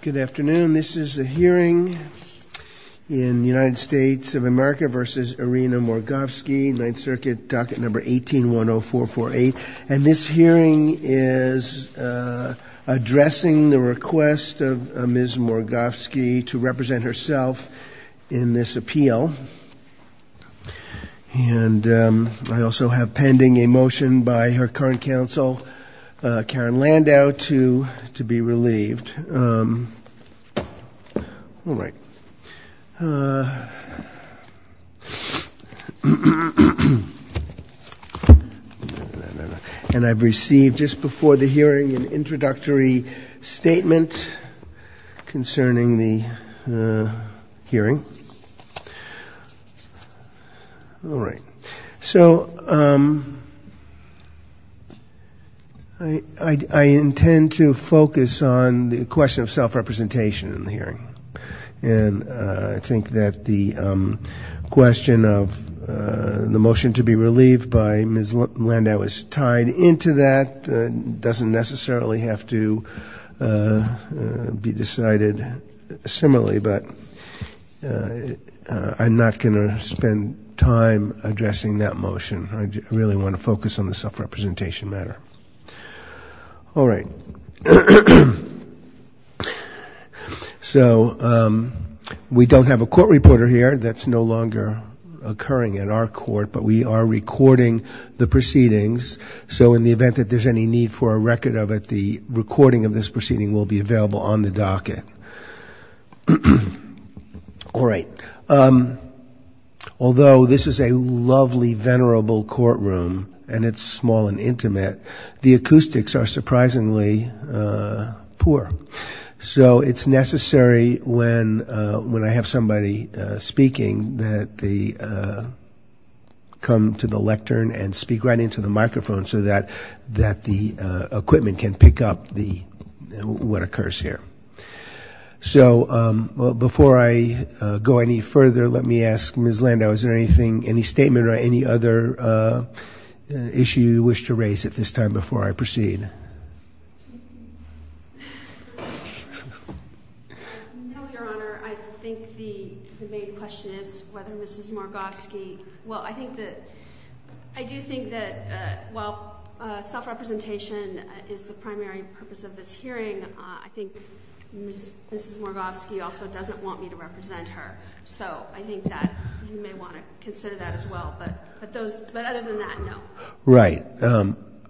Good afternoon. This is a hearing in United States of America v. Irina Morgovsky, Ninth Circuit, docket number 18-10448. And this hearing is addressing the request of Ms. Morgovsky to represent herself in this appeal. And I also have pending a motion by her current counsel, Karen Landau, to be relieved. And I've received just before the hearing an introductory statement concerning the hearing. All right. So I intend to focus on the question of self-representation in the hearing. And I think that the question of the motion to be relieved by Ms. Landau is tied into that. It doesn't necessarily have to be decided similarly, but I'm not going to spend time addressing that motion. I really want to focus on the self-representation matter. All right. So we don't have a court reporter here. That's no longer occurring in our court, but we are recording the proceedings. So in the event that there's any need for a record of it, the recording of this proceeding will be available on the docket. All right. Although this is a lovely, venerable courtroom, and it's small and intimate, the acoustics are surprisingly poor. So it's necessary when I have somebody speaking that they come to the lectern and speak right into the microphone so that the equipment can pick up what occurs here. So before I go any further, let me ask Ms. Landau, is there any statement or any other issue you wish to raise at this time before I proceed? No, Your Honor. I think the main question is whether Mrs. Morgofsky – well, I do think that while self-representation is the primary purpose of this hearing, I think Mrs. Morgofsky also doesn't want me to represent her. So I think that you may want to consider that as well. But other than that, no. Right.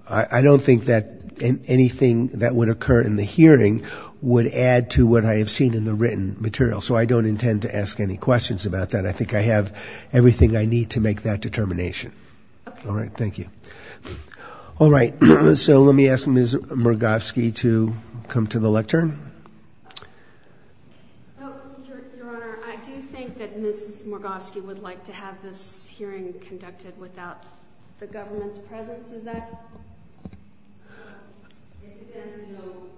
I don't think that anything that would occur in the hearing would add to what I have seen in the written material. So I don't intend to ask any questions about that. I think I have everything I need to make that determination. All right. Thank you. All right. So let me ask Ms. Morgofsky to come to the lectern. Your Honor, I do think that Mrs. Morgofsky would like to have this hearing conducted without the government's presence. Is that correct? It depends, you know,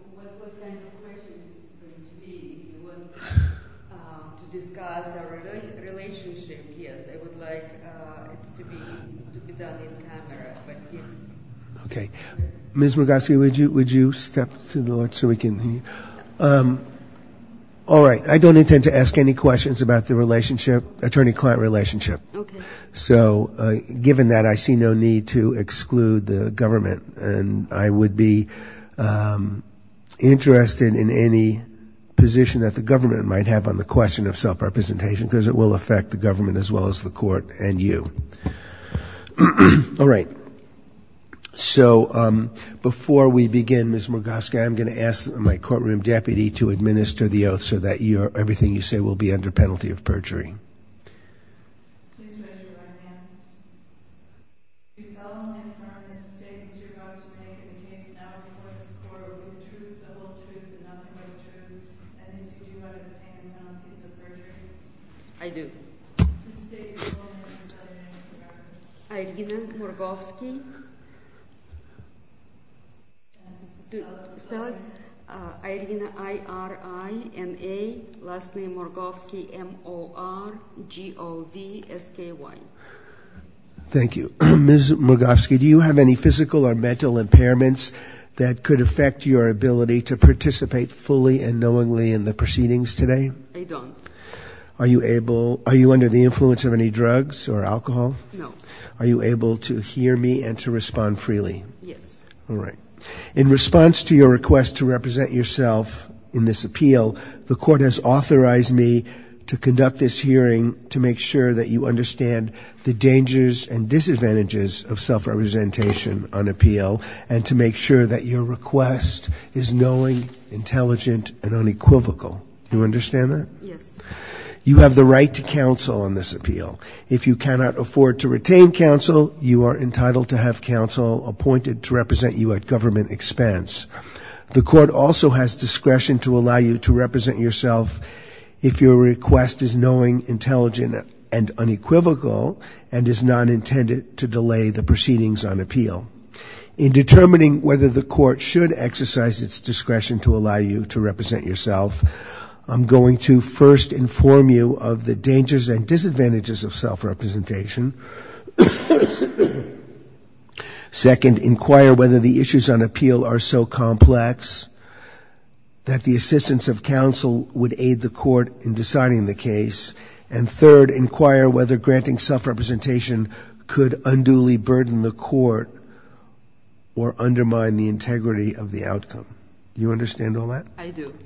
what kind of question it is going to be. It was to discuss our relationship. Yes, I would like it to be done in camera. Okay. Ms. Morgofsky, would you step to the left so we can hear you? All right. I don't intend to ask any questions about the relationship, attorney-client relationship. Okay. So given that, I see no need to exclude the government, and I would be interested in any position that the government might have on the question of self-representation because it will affect the government as well as the court and you. All right. So before we begin, Ms. Morgofsky, I'm going to ask my courtroom deputy to administer the oath so that everything you say will be under penalty of perjury. Please raise your right hand. Do you solemnly affirm the statements you are about to make in the case now before this Court are with the truth, the whole truth, and nothing but the truth, and do you solemnly affirm the penalty of perjury? I do. State your name and last name. Irina Morgofsky. Irina, I-r-i-n-a, last name Morgofsky, M-o-r-g-o-v-s-k-y. Thank you. Ms. Morgofsky, do you have any physical or mental impairments that could affect your ability to participate fully and knowingly in the proceedings today? I don't. Are you under the influence of any drugs or alcohol? No. Are you able to hear me and to respond freely? Yes. All right. In response to your request to represent yourself in this appeal, the Court has authorized me to conduct this hearing to make sure that you understand the dangers and disadvantages of self-representation on appeal and to make sure that your request is knowing, intelligent, and unequivocal. Do you understand that? Yes. You have the right to counsel on this appeal. If you cannot afford to retain counsel, you are entitled to have counsel appointed to represent you at government expense. The Court also has discretion to allow you to represent yourself if your request is knowing, intelligent, and unequivocal and is not intended to delay the proceedings on appeal. In determining whether the Court should exercise its discretion to allow you to represent yourself, I'm going to first inform you of the dangers and disadvantages of self-representation, second, inquire whether the issues on appeal are so complex that the assistance of counsel would aid the Court in deciding the case, and third, inquire whether granting self-representation could unduly burden the Court or undermine the integrity of the outcome. Do you understand all that? I do.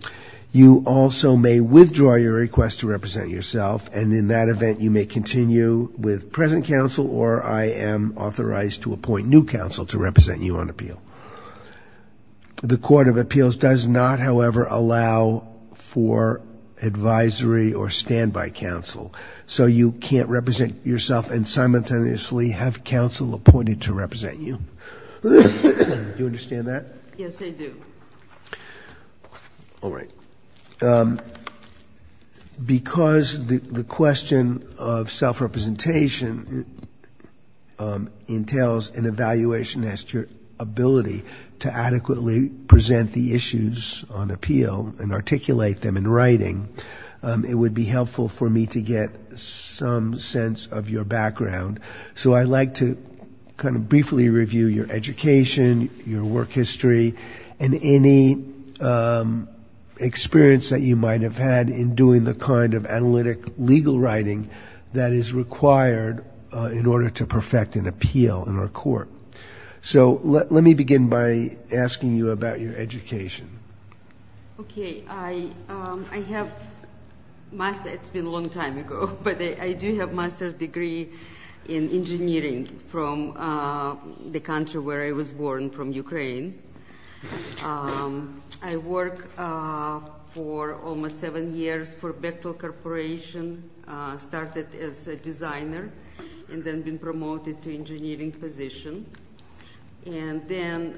You also may withdraw your request to represent yourself, and in that event you may continue with present counsel or I am authorized to appoint new counsel to represent you on appeal. The Court of Appeals does not, however, allow for advisory or standby counsel, so you can't represent yourself and simultaneously have counsel appointed to represent you. Do you understand that? Yes, I do. All right. Because the question of self-representation entails an evaluation as to your ability to adequately present the issues on appeal and articulate them in writing, it would be helpful for me to get some sense of your background, so I'd like to kind of briefly review your education, your work history, and any experience that you might have had in doing the kind of analytic legal writing that is required in order to perfect an appeal in our court. So let me begin by asking you about your education. Okay. I have a master's degree. It's been a long time ago, but I do have a master's degree in engineering from the country where I was born, from Ukraine. I worked for almost seven years for Bechtel Corporation, started as a designer, and then been promoted to engineering position. And then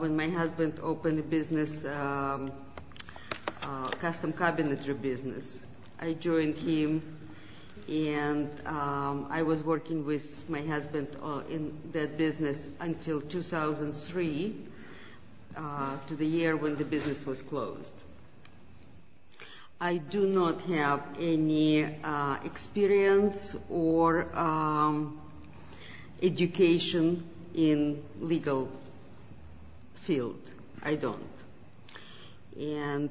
when my husband opened a business, a custom cabinetry business, I joined him, and I was working with my husband in that business until 2003, to the year when the business was closed. I do not have any experience or education in legal field. I don't. And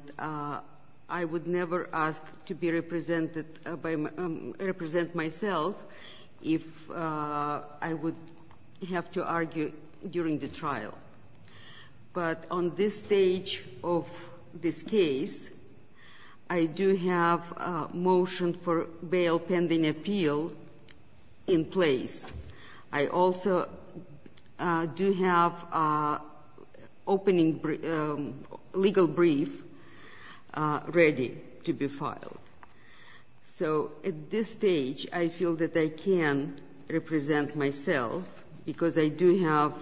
I would never ask to represent myself if I would have to argue during the trial. But on this stage of this case, I do have a motion for bail pending appeal in place. I also do have a legal brief ready to be filed. So at this stage, I feel that I can represent myself because I do have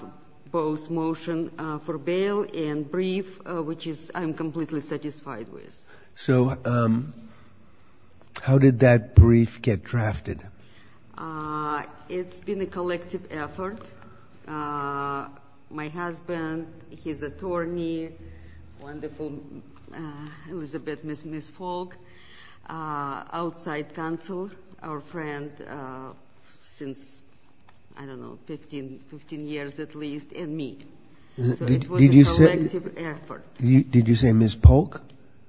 both motion for bail and brief, which I'm completely satisfied with. So how did that brief get drafted? It's been a collective effort. My husband, his attorney, wonderful Elizabeth, Ms. Polk, outside counsel, our friend since, I don't know, 15 years at least, and me. So it was a collective effort. Did you say Ms. Polk?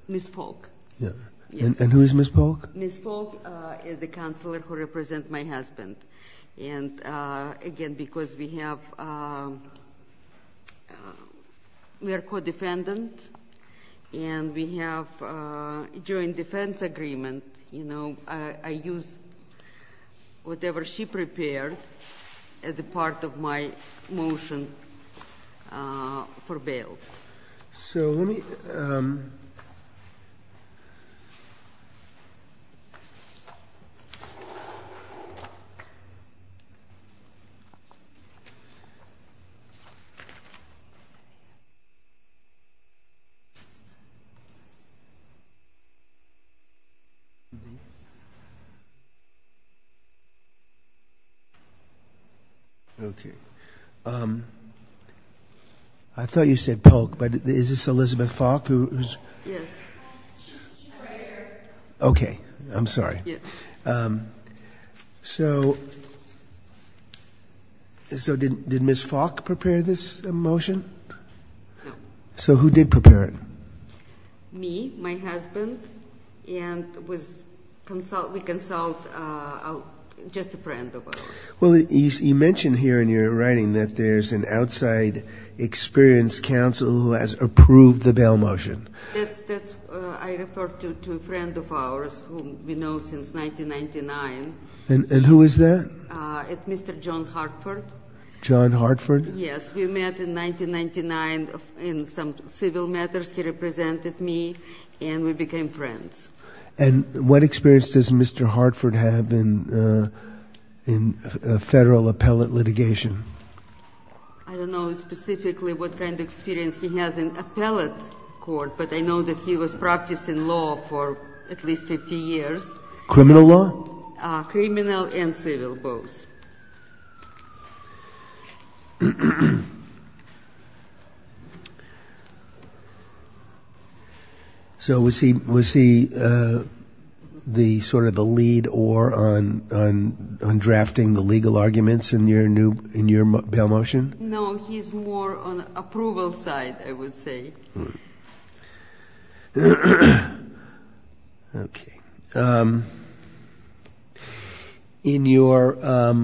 Ms. Polk. And who is Ms. Polk? Ms. Polk is the counselor who represents my husband. And again, because we are co-defendant and we have joint defense agreement, I used whatever she prepared as a part of my motion for bail. So let me – Okay. Okay. I thought you said Polk, but is this Elizabeth Falk? Yes. She's right here. Okay. I'm sorry. So did Ms. Falk prepare this motion? No. So who did prepare it? Me, my husband, and we consult just a friend of ours. Well, you mention here in your writing that there's an outside experience counsel who has approved the bail motion. I refer to a friend of ours whom we know since 1999. And who is that? It's Mr. John Hartford. John Hartford? Yes. We met in 1999 in some civil matters. He represented me, and we became friends. And what experience does Mr. Hartford have in federal appellate litigation? I don't know specifically what kind of experience he has in appellate court, but I know that he was practicing law for at least 50 years. Criminal law? Criminal and civil, both. Okay. So was he sort of the lead or on drafting the legal arguments in your bail motion? No, he's more on approval side, I would say. Okay. Okay. In your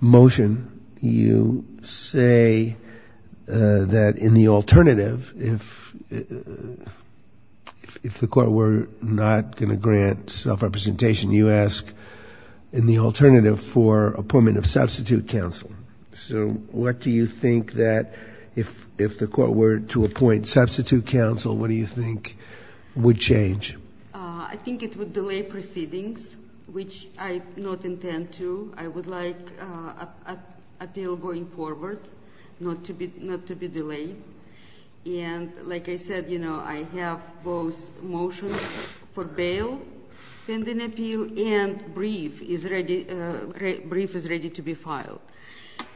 motion, you say that in the alternative, if the court were not going to grant self-representation, you ask in the alternative for appointment of substitute counsel. So what do you think that if the court were to appoint substitute counsel, what do you think would change? I think it would delay proceedings, which I do not intend to. I would like appeal going forward not to be delayed. And like I said, you know, I have both motion for bail pending appeal and brief is ready to be filed.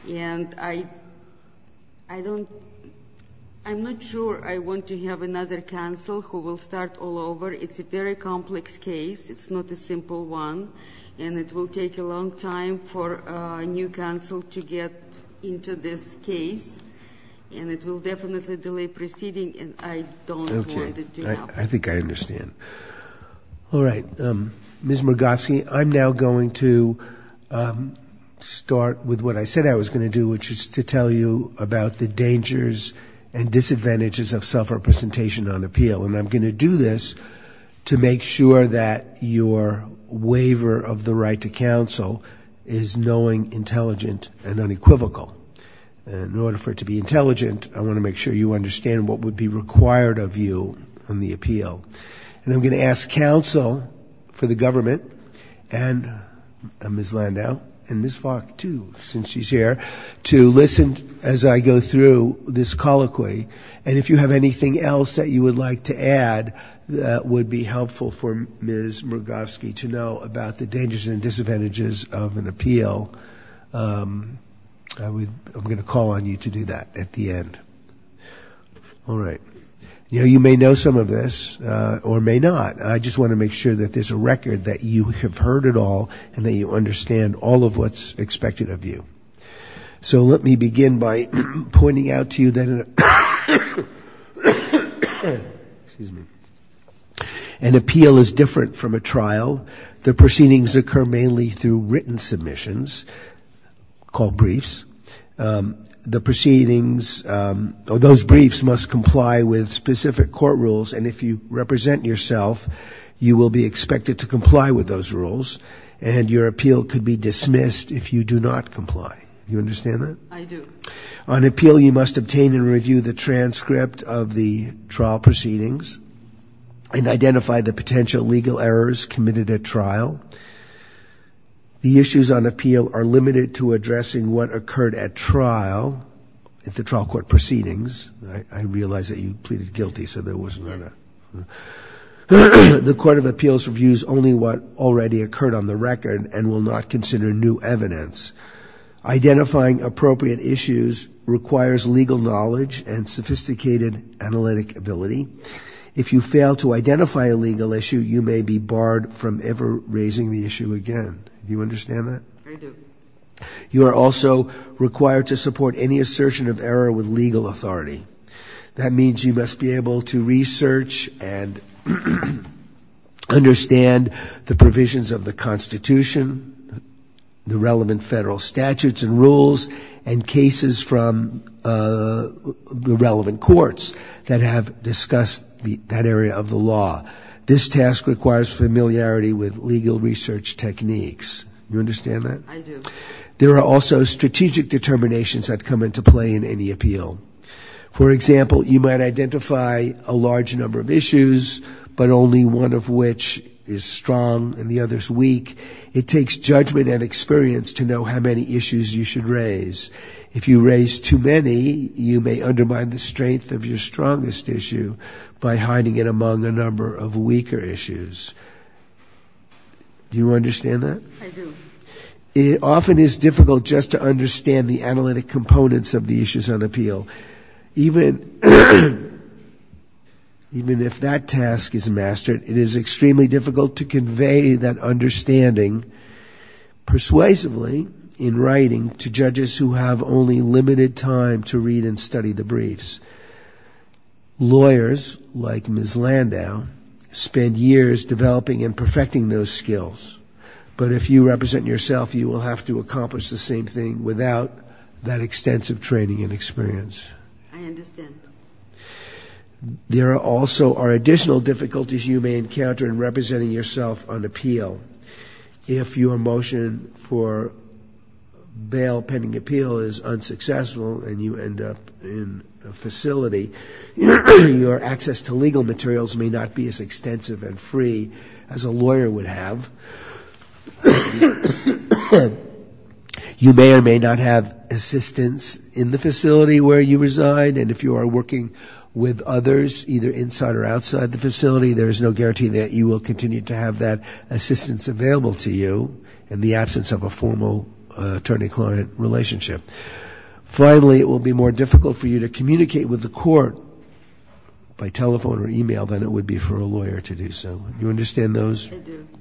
And I'm not sure I want to have another counsel who will start all over. It's a very complex case. It's not a simple one, and it will take a long time for a new counsel to get into this case, and it will definitely delay proceeding, and I don't want it to happen. Okay. I think I understand. All right. Ms. Murgovsky, I'm now going to start with what I said I was going to do, which is to tell you about the dangers and disadvantages of self-representation on appeal. And I'm going to do this to make sure that your waiver of the right to counsel is knowing, intelligent, and unequivocal. In order for it to be intelligent, I want to make sure you understand what would be required of you on the appeal. And I'm going to ask counsel for the government, and Ms. Landau and Ms. Falk too since she's here, to listen as I go through this colloquy. And if you have anything else that you would like to add that would be helpful for Ms. Murgovsky to know about the dangers and disadvantages of an appeal, I'm going to call on you to do that at the end. All right. You may know some of this or may not. I just want to make sure that there's a record that you have heard it all and that you understand all of what's expected of you. So let me begin by pointing out to you that an appeal is different from a trial. The proceedings occur mainly through written submissions called briefs. The proceedings, or those briefs, must comply with specific court rules, and if you represent yourself, you will be expected to comply with those rules, and your appeal could be dismissed if you do not comply. Do you understand that? I do. On appeal, you must obtain and review the transcript of the trial proceedings and identify the potential legal errors committed at trial. The issues on appeal are limited to addressing what occurred at trial, if the trial court proceedings. I realize that you pleaded guilty, so there was none. The court of appeals reviews only what already occurred on the record and will not consider new evidence. Identifying appropriate issues requires legal knowledge and sophisticated analytic ability. If you fail to identify a legal issue, you may be barred from ever raising the issue again. Do you understand that? I do. You are also required to support any assertion of error with legal authority. That means you must be able to research and understand the provisions of the Constitution, the relevant federal statutes and rules, and cases from the relevant courts that have discussed that area of the law. This task requires familiarity with legal research techniques. Do you understand that? I do. There are also strategic determinations that come into play in any appeal. For example, you might identify a large number of issues, but only one of which is strong and the other is weak. It takes judgment and experience to know how many issues you should raise. If you raise too many, you may undermine the strength of your strongest issue by hiding it among a number of weaker issues. Do you understand that? I do. It often is difficult just to understand the analytic components of the issues on appeal. Even if that task is mastered, it is extremely difficult to convey that understanding persuasively in writing to judges who have only limited time to read and study the briefs. Lawyers, like Ms. Landau, spend years developing and perfecting those skills. But if you represent yourself, you will have to accomplish the same thing without that extensive training and experience. I understand. There also are additional difficulties you may encounter in representing yourself on appeal. If your motion for bail pending appeal is unsuccessful and you end up in a facility, your access to legal materials may not be as extensive and free as a lawyer would have. You may or may not have assistants in the facility where you reside, and if you are working with others either inside or outside the facility, there is no guarantee that you will continue to have that assistance available to you in the absence of a formal attorney-client relationship. Finally, it will be more difficult for you to communicate with the court by telephone or email than it would be for a lawyer to do so. Do you understand those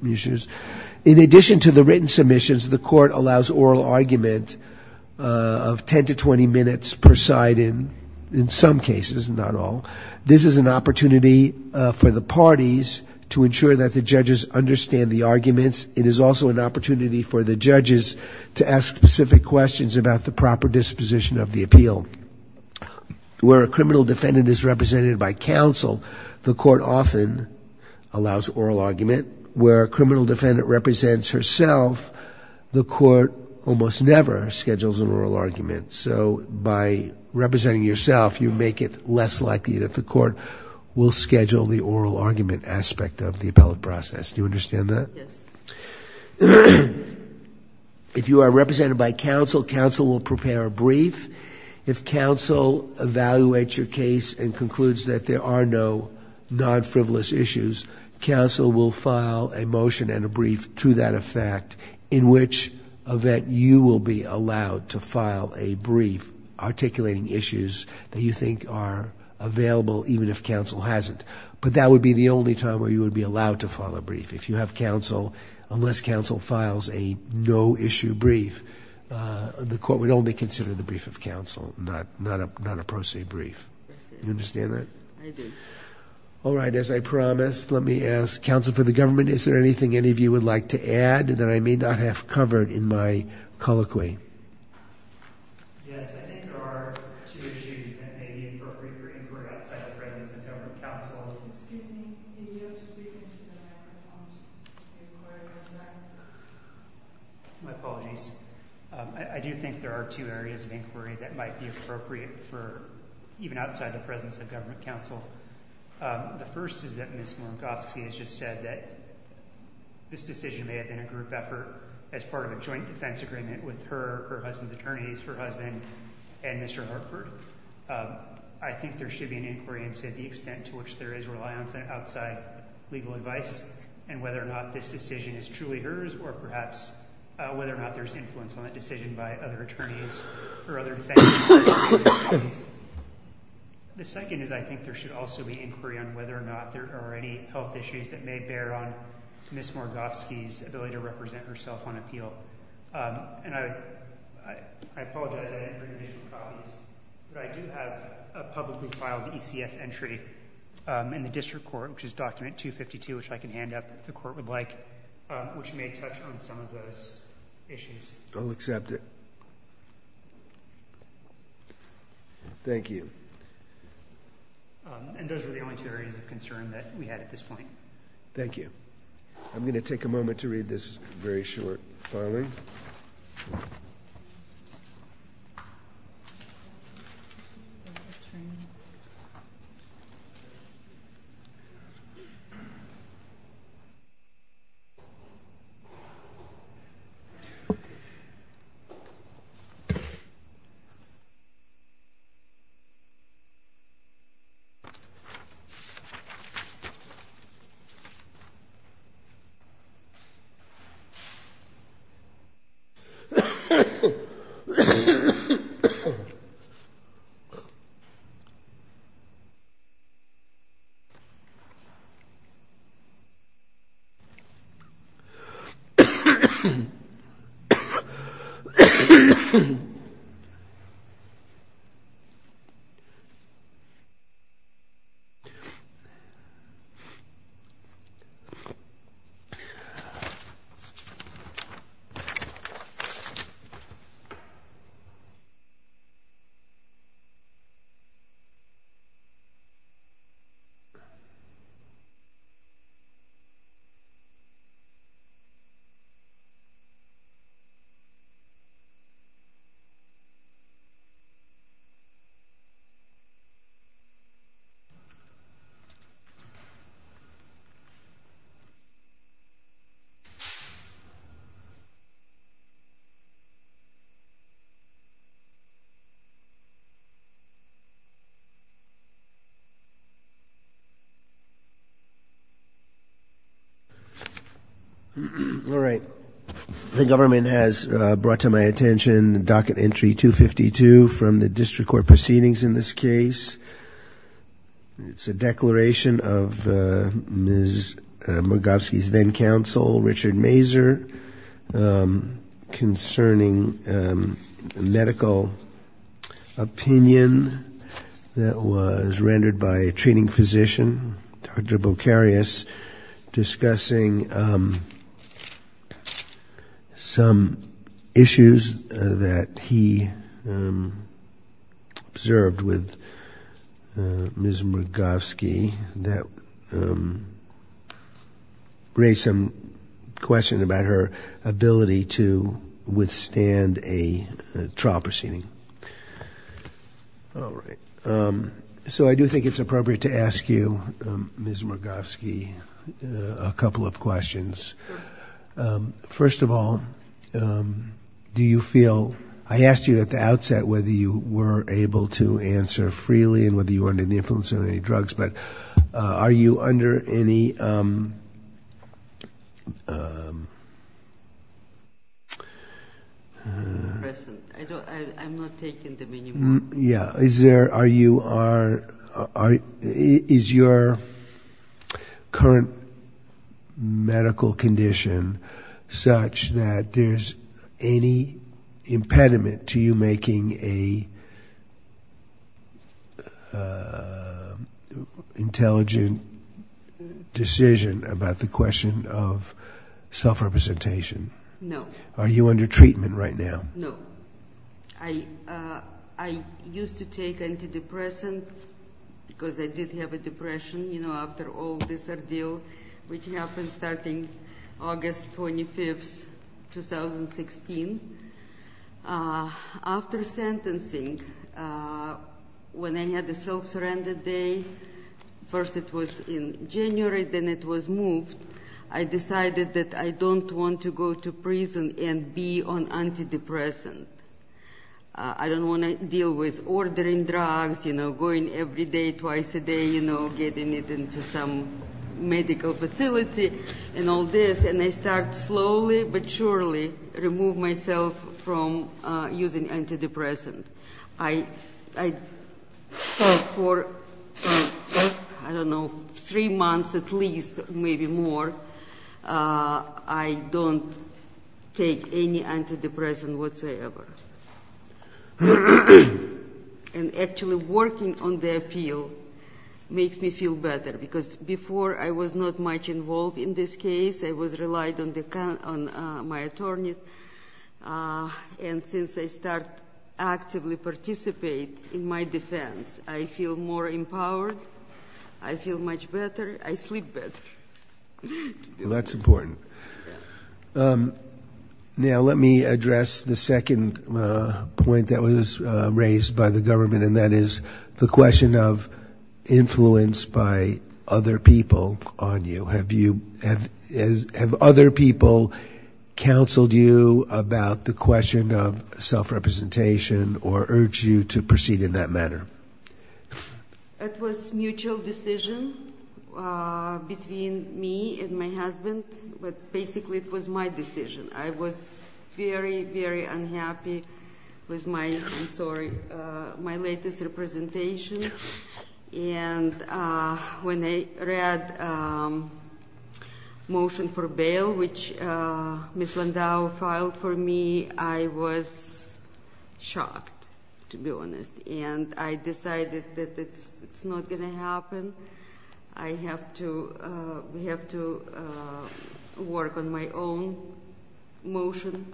issues? I do. In addition to the written submissions, the court allows oral argument of 10 to 20 minutes per side in some cases, not all. This is an opportunity for the parties to ensure that the judges understand the arguments. It is also an opportunity for the judges to ask specific questions about the proper disposition of the appeal. Where a criminal defendant is represented by counsel, the court often allows oral argument. Where a criminal defendant represents herself, the court almost never schedules an oral argument. So by representing yourself, you make it less likely that the court will schedule the oral argument aspect of the appellate process. Do you understand that? Yes. If you are represented by counsel, counsel will prepare a brief. If counsel evaluates your case and concludes that there are no non-frivolous issues, counsel will file a motion and a brief to that effect, in which event you will be allowed to file a brief articulating issues that you think are available even if counsel hasn't. But that would be the only time where you would be allowed to file a brief. If you have counsel, unless counsel files a no-issue brief, the court would only consider the brief of counsel, not a pro se brief. Do you understand that? I do. All right. As I promised, let me ask counsel for the government, is there anything any of you would like to add that I may not have covered in my colloquy? Yes. I think there are two issues that may be appropriate for inquiry outside the presence of government counsel. Excuse me. Can you speak into the microphone? My apologies. I do think there are two areas of inquiry that might be appropriate even outside the presence of government counsel. The first is that Ms. Morgofsky has just said that this decision may have been a group effort as part of a joint defense agreement with her, her husband's attorneys, her husband, and Mr. Hartford. I think there should be an inquiry into the extent to which there is reliance on outside legal advice and whether or not this decision is truly hers or perhaps whether or not there is influence on that decision by other attorneys or other defense attorneys. The second is I think there should also be inquiry on whether or not there are any health issues that may bear on Ms. Morgofsky's ability to represent herself on appeal. And I apologize, I didn't bring any copies, but I do have a publicly filed ECF entry in the district court, which is document 252, which I can hand up if the court would like, which may touch on some of those issues. I'll accept it. Thank you. And those are the only two areas of concern that we had at this point. Thank you. I'm going to take a moment to read this very short filing. Thank you. Thank you. Thank you. Thank you. All right. The government has brought to my attention docket entry 252 from the district court proceedings in this case. It's a declaration of Ms. Morgofsky's then counsel, Richard Mazur, concerning medical opinion that was rendered by a treating physician, Dr. Bocarious, discussing some issues that he observed with Ms. Morgofsky that raised some question about her ability to withstand a trial proceeding. All right. So I do think it's appropriate to ask you, Ms. Morgofsky, a couple of questions. First of all, do you feel – I asked you at the outset whether you were able to answer freely and whether you were under the influence of any drugs. But are you under any – I'm not taking them anymore. Is your current medical condition such that there's any impediment to you making a intelligent decision about the question of self-representation? No. Are you under treatment right now? No. I used to take antidepressant because I did have a depression, you know, after all this ordeal, which happened starting August 25th, 2016. After sentencing, when I had the self-surrender day, first it was in January, then it was moved, I decided that I don't want to go to prison and be on antidepressant. I don't want to deal with ordering drugs, you know, going every day, twice a day, you know, getting it into some medical facility and all this, and I start slowly but surely remove myself from using antidepressant. I thought for, I don't know, three months at least, maybe more, I don't take any antidepressant whatsoever. And actually working on the appeal makes me feel better because before I was not much involved in this case. I was relied on my attorney. And since I start actively participate in my defense, I feel more empowered. I feel much better. I sleep better. That's important. Now let me address the second point that was raised by the government, and that is the question of influence by other people on you. Have you, have other people counseled you about the question of self-representation or urged you to proceed in that manner? It was mutual decision between me and my husband, but basically it was my decision. I was very, very unhappy with my, I'm sorry, my latest representation. And when I read motion for bail, which Ms. Landau filed for me, I was shocked, to be honest. And I decided that it's not going to happen. I have to work on my own motion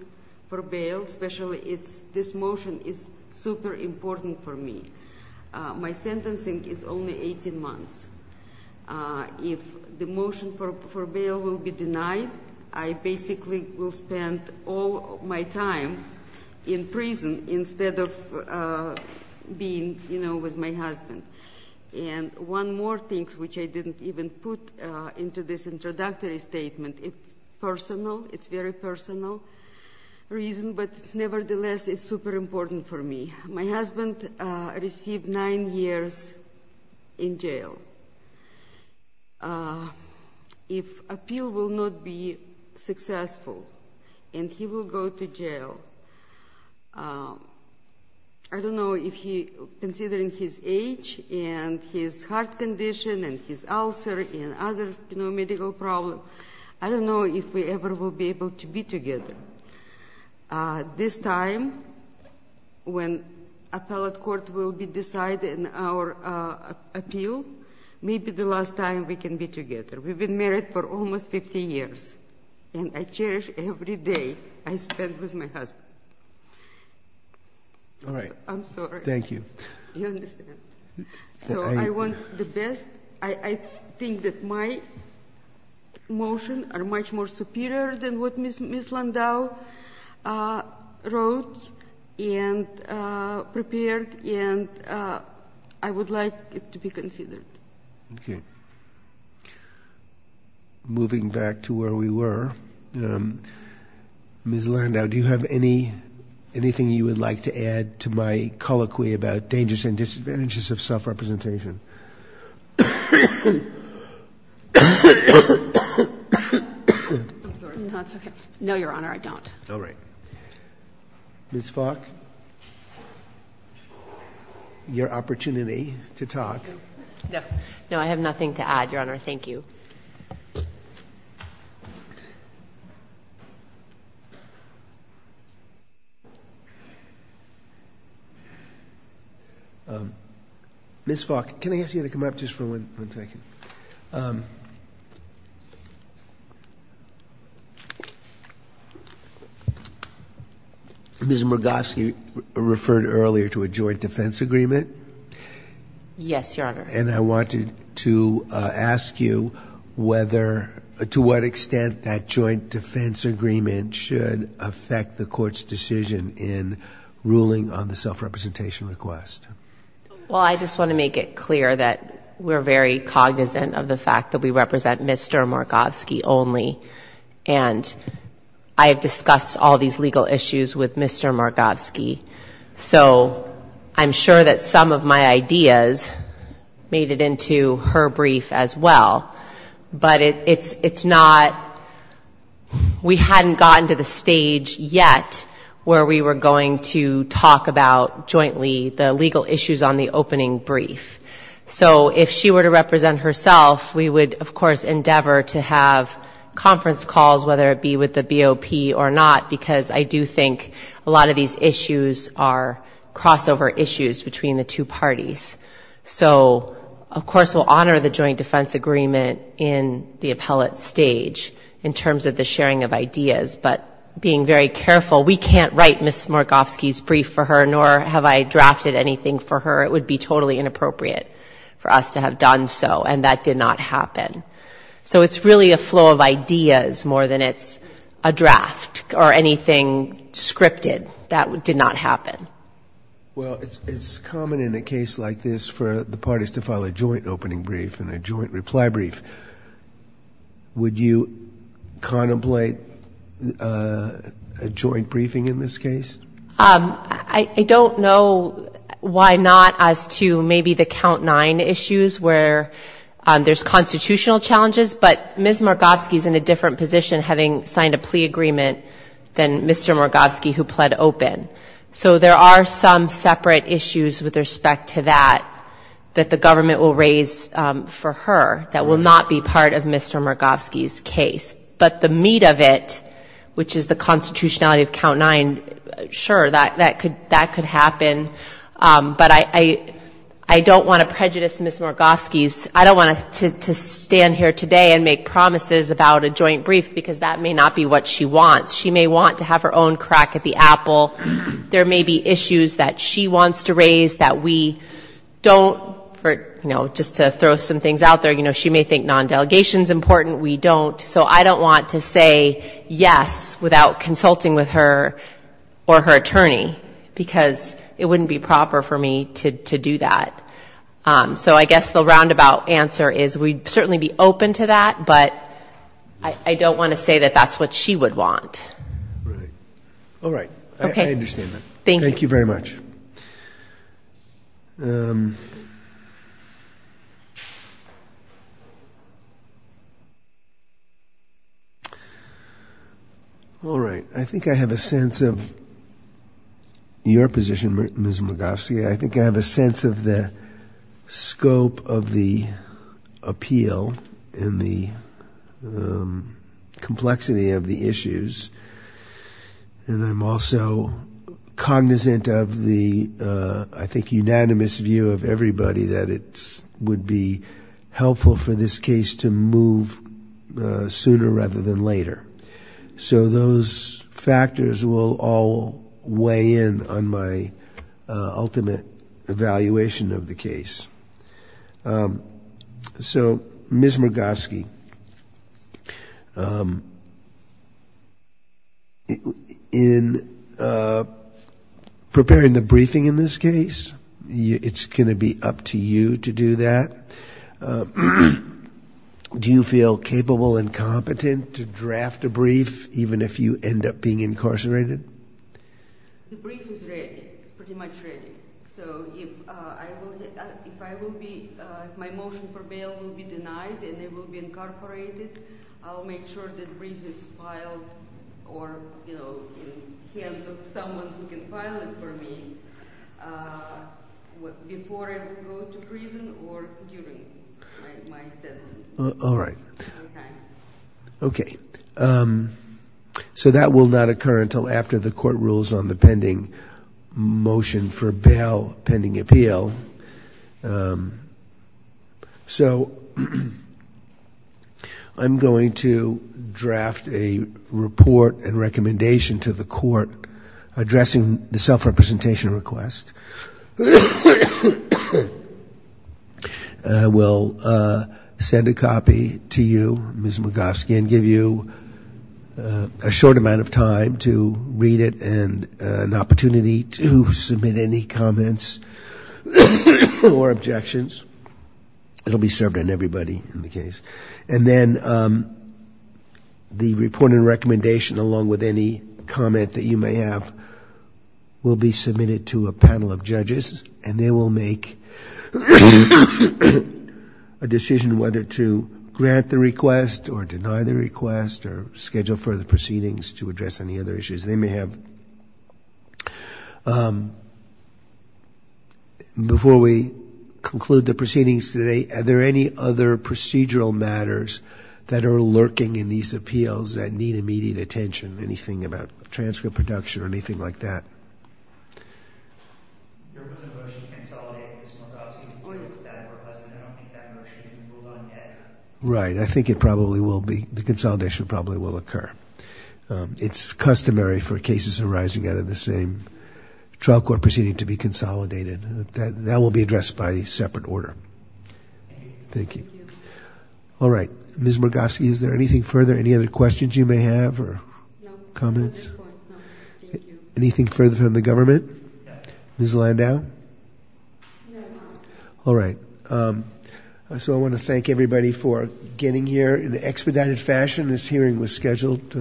for bail, especially it's, this motion is super important for me. My sentencing is only 18 months. If the motion for bail will be denied, I basically will spend all my time in prison instead of being, you know, with my husband. And one more thing, which I didn't even put into this introductory statement, it's personal, it's very personal reason, but nevertheless it's super important for me. My husband received nine years in jail. If appeal will not be successful and he will go to jail, I don't know if he, considering his age and his heart condition and his ulcer and other, you know, medical problem, I don't know if we ever will be able to be together. This time, when appellate court will be deciding our appeal, maybe the last time we can be together. We've been married for almost 15 years. And I cherish every day I spend with my husband. All right. I'm sorry. Thank you. You understand. So I want the best. I think that my motion are much more superior than what Ms. Landau wrote and prepared, and I would like it to be considered. Okay. Moving back to where we were, Ms. Landau, do you have anything you would like to add to my colloquy about dangers and disadvantages of self-representation? I'm sorry. No, it's okay. No, Your Honor, I don't. All right. Ms. Falk, your opportunity to talk. No, I have nothing to add, Your Honor. Thank you. Ms. Falk, can I ask you to come up just for one second? Ms. Murgosky referred earlier to a joint defense agreement. Yes, Your Honor. And I wanted to ask you whether, to what extent, that joint defense agreement should affect the Court's decision in ruling on the self-representation request. Well, I just want to make it clear that we're very cognizant of the fact that we represent Mr. Murgosky only, and I have discussed all these legal issues with Mr. Murgosky. So I'm sure that some of my ideas made it into her brief as well, but it's not we hadn't gotten to the stage yet where we were going to talk about jointly the legal issues on the opening brief. So if she were to represent herself, we would, of course, endeavor to have conference calls, whether it be with the BOP or not, because I do think a lot of these issues are crossover issues between the two parties. So, of course, we'll honor the joint defense agreement in the appellate stage in terms of the sharing of ideas, but being very careful, we can't write Ms. Murgosky's brief for her, nor have I drafted anything for her. It would be totally inappropriate for us to have done so, and that did not happen. So it's really a flow of ideas more than it's a draft or anything scripted that did not happen. Well, it's common in a case like this for the parties to file a joint opening brief and a joint reply brief. Would you contemplate a joint briefing in this case? I don't know why not as to maybe the count nine issues where there's constitutional issues, constitutional challenges, but Ms. Murgosky's in a different position having signed a plea agreement than Mr. Murgosky who pled open. So there are some separate issues with respect to that that the government will raise for her that will not be part of Mr. Murgosky's case. But the meat of it, which is the constitutionality of count nine, sure, that could happen. But I don't want to prejudice Ms. Murgosky's, I don't want to stand here today and make promises about a joint brief, because that may not be what she wants. She may want to have her own crack at the apple. There may be issues that she wants to raise that we don't, you know, just to throw some things out there, you know, she may think non-delegation is important, we don't. So I don't want to say yes without consulting with her or her attorney, because it wouldn't be proper for me to do that. So I guess the roundabout answer is we'd certainly be open to that, but I don't want to say that that's what she would want. All right. I understand that. Thank you very much. All right. I think I have a sense of your position, Ms. Murgosky. I think I have a sense of the scope of the appeal and the complexity of the issues. And I'm also cognizant of the, I think, unanimous view of everybody that it would be helpful for this case to move sooner rather than later. So those factors will all weigh in on my ultimate evaluation of the case. So, Ms. Murgosky, in preparing the briefing in this case, it's going to be up to you to do that. Do you feel capable and competent to draft a brief, even if you end up being incarcerated? The brief is ready, pretty much ready. So if I will be, if my motion for bail will be denied and it will be incorporated, I'll make sure that brief is filed or, you know, in the hands of someone who can file it for me before I go to prison or during. All right. Okay. So that will not occur until after the court rules on the pending motion for bail, pending appeal. So I'm going to draft a report and recommendation to the court addressing the self-representation request. And I will send a copy to you, Ms. Murgosky, and give you a short amount of time to read it and an opportunity to submit any comments or objections. It will be served on everybody in the case. And then the report and recommendation, along with any comment that you may have, will be submitted to a panel of judges, and they will make a brief decision whether to grant the request or deny the request or schedule further proceedings to address any other issues they may have. Before we conclude the proceedings today, are there any other procedural matters that are lurking in these appeals that need immediate attention, anything about transcript production or anything like that? There was a motion to consolidate, Ms. Murgosky, and I don't think that motion has been moved on yet. Right. I think it probably will be. The consolidation probably will occur. It's customary for cases arising out of the same trial court proceeding to be consolidated. That will be addressed by a separate order. Thank you. All right. Ms. Murgosky, is there anything further, any other questions you may have or comments? Anything further from the government? Ms. Landau? All right. So I want to thank everybody for getting here in an expedited fashion. This hearing was scheduled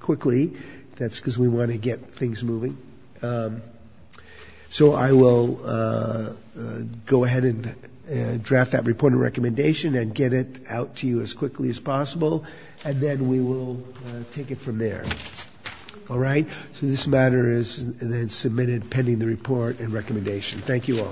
quickly. That's because we want to get things moving. So I will go ahead and draft that report and recommendation and get it out to you as quickly as possible. And then we will take it from there. All right. So this matter is then submitted pending the report and recommendation. Thank you all.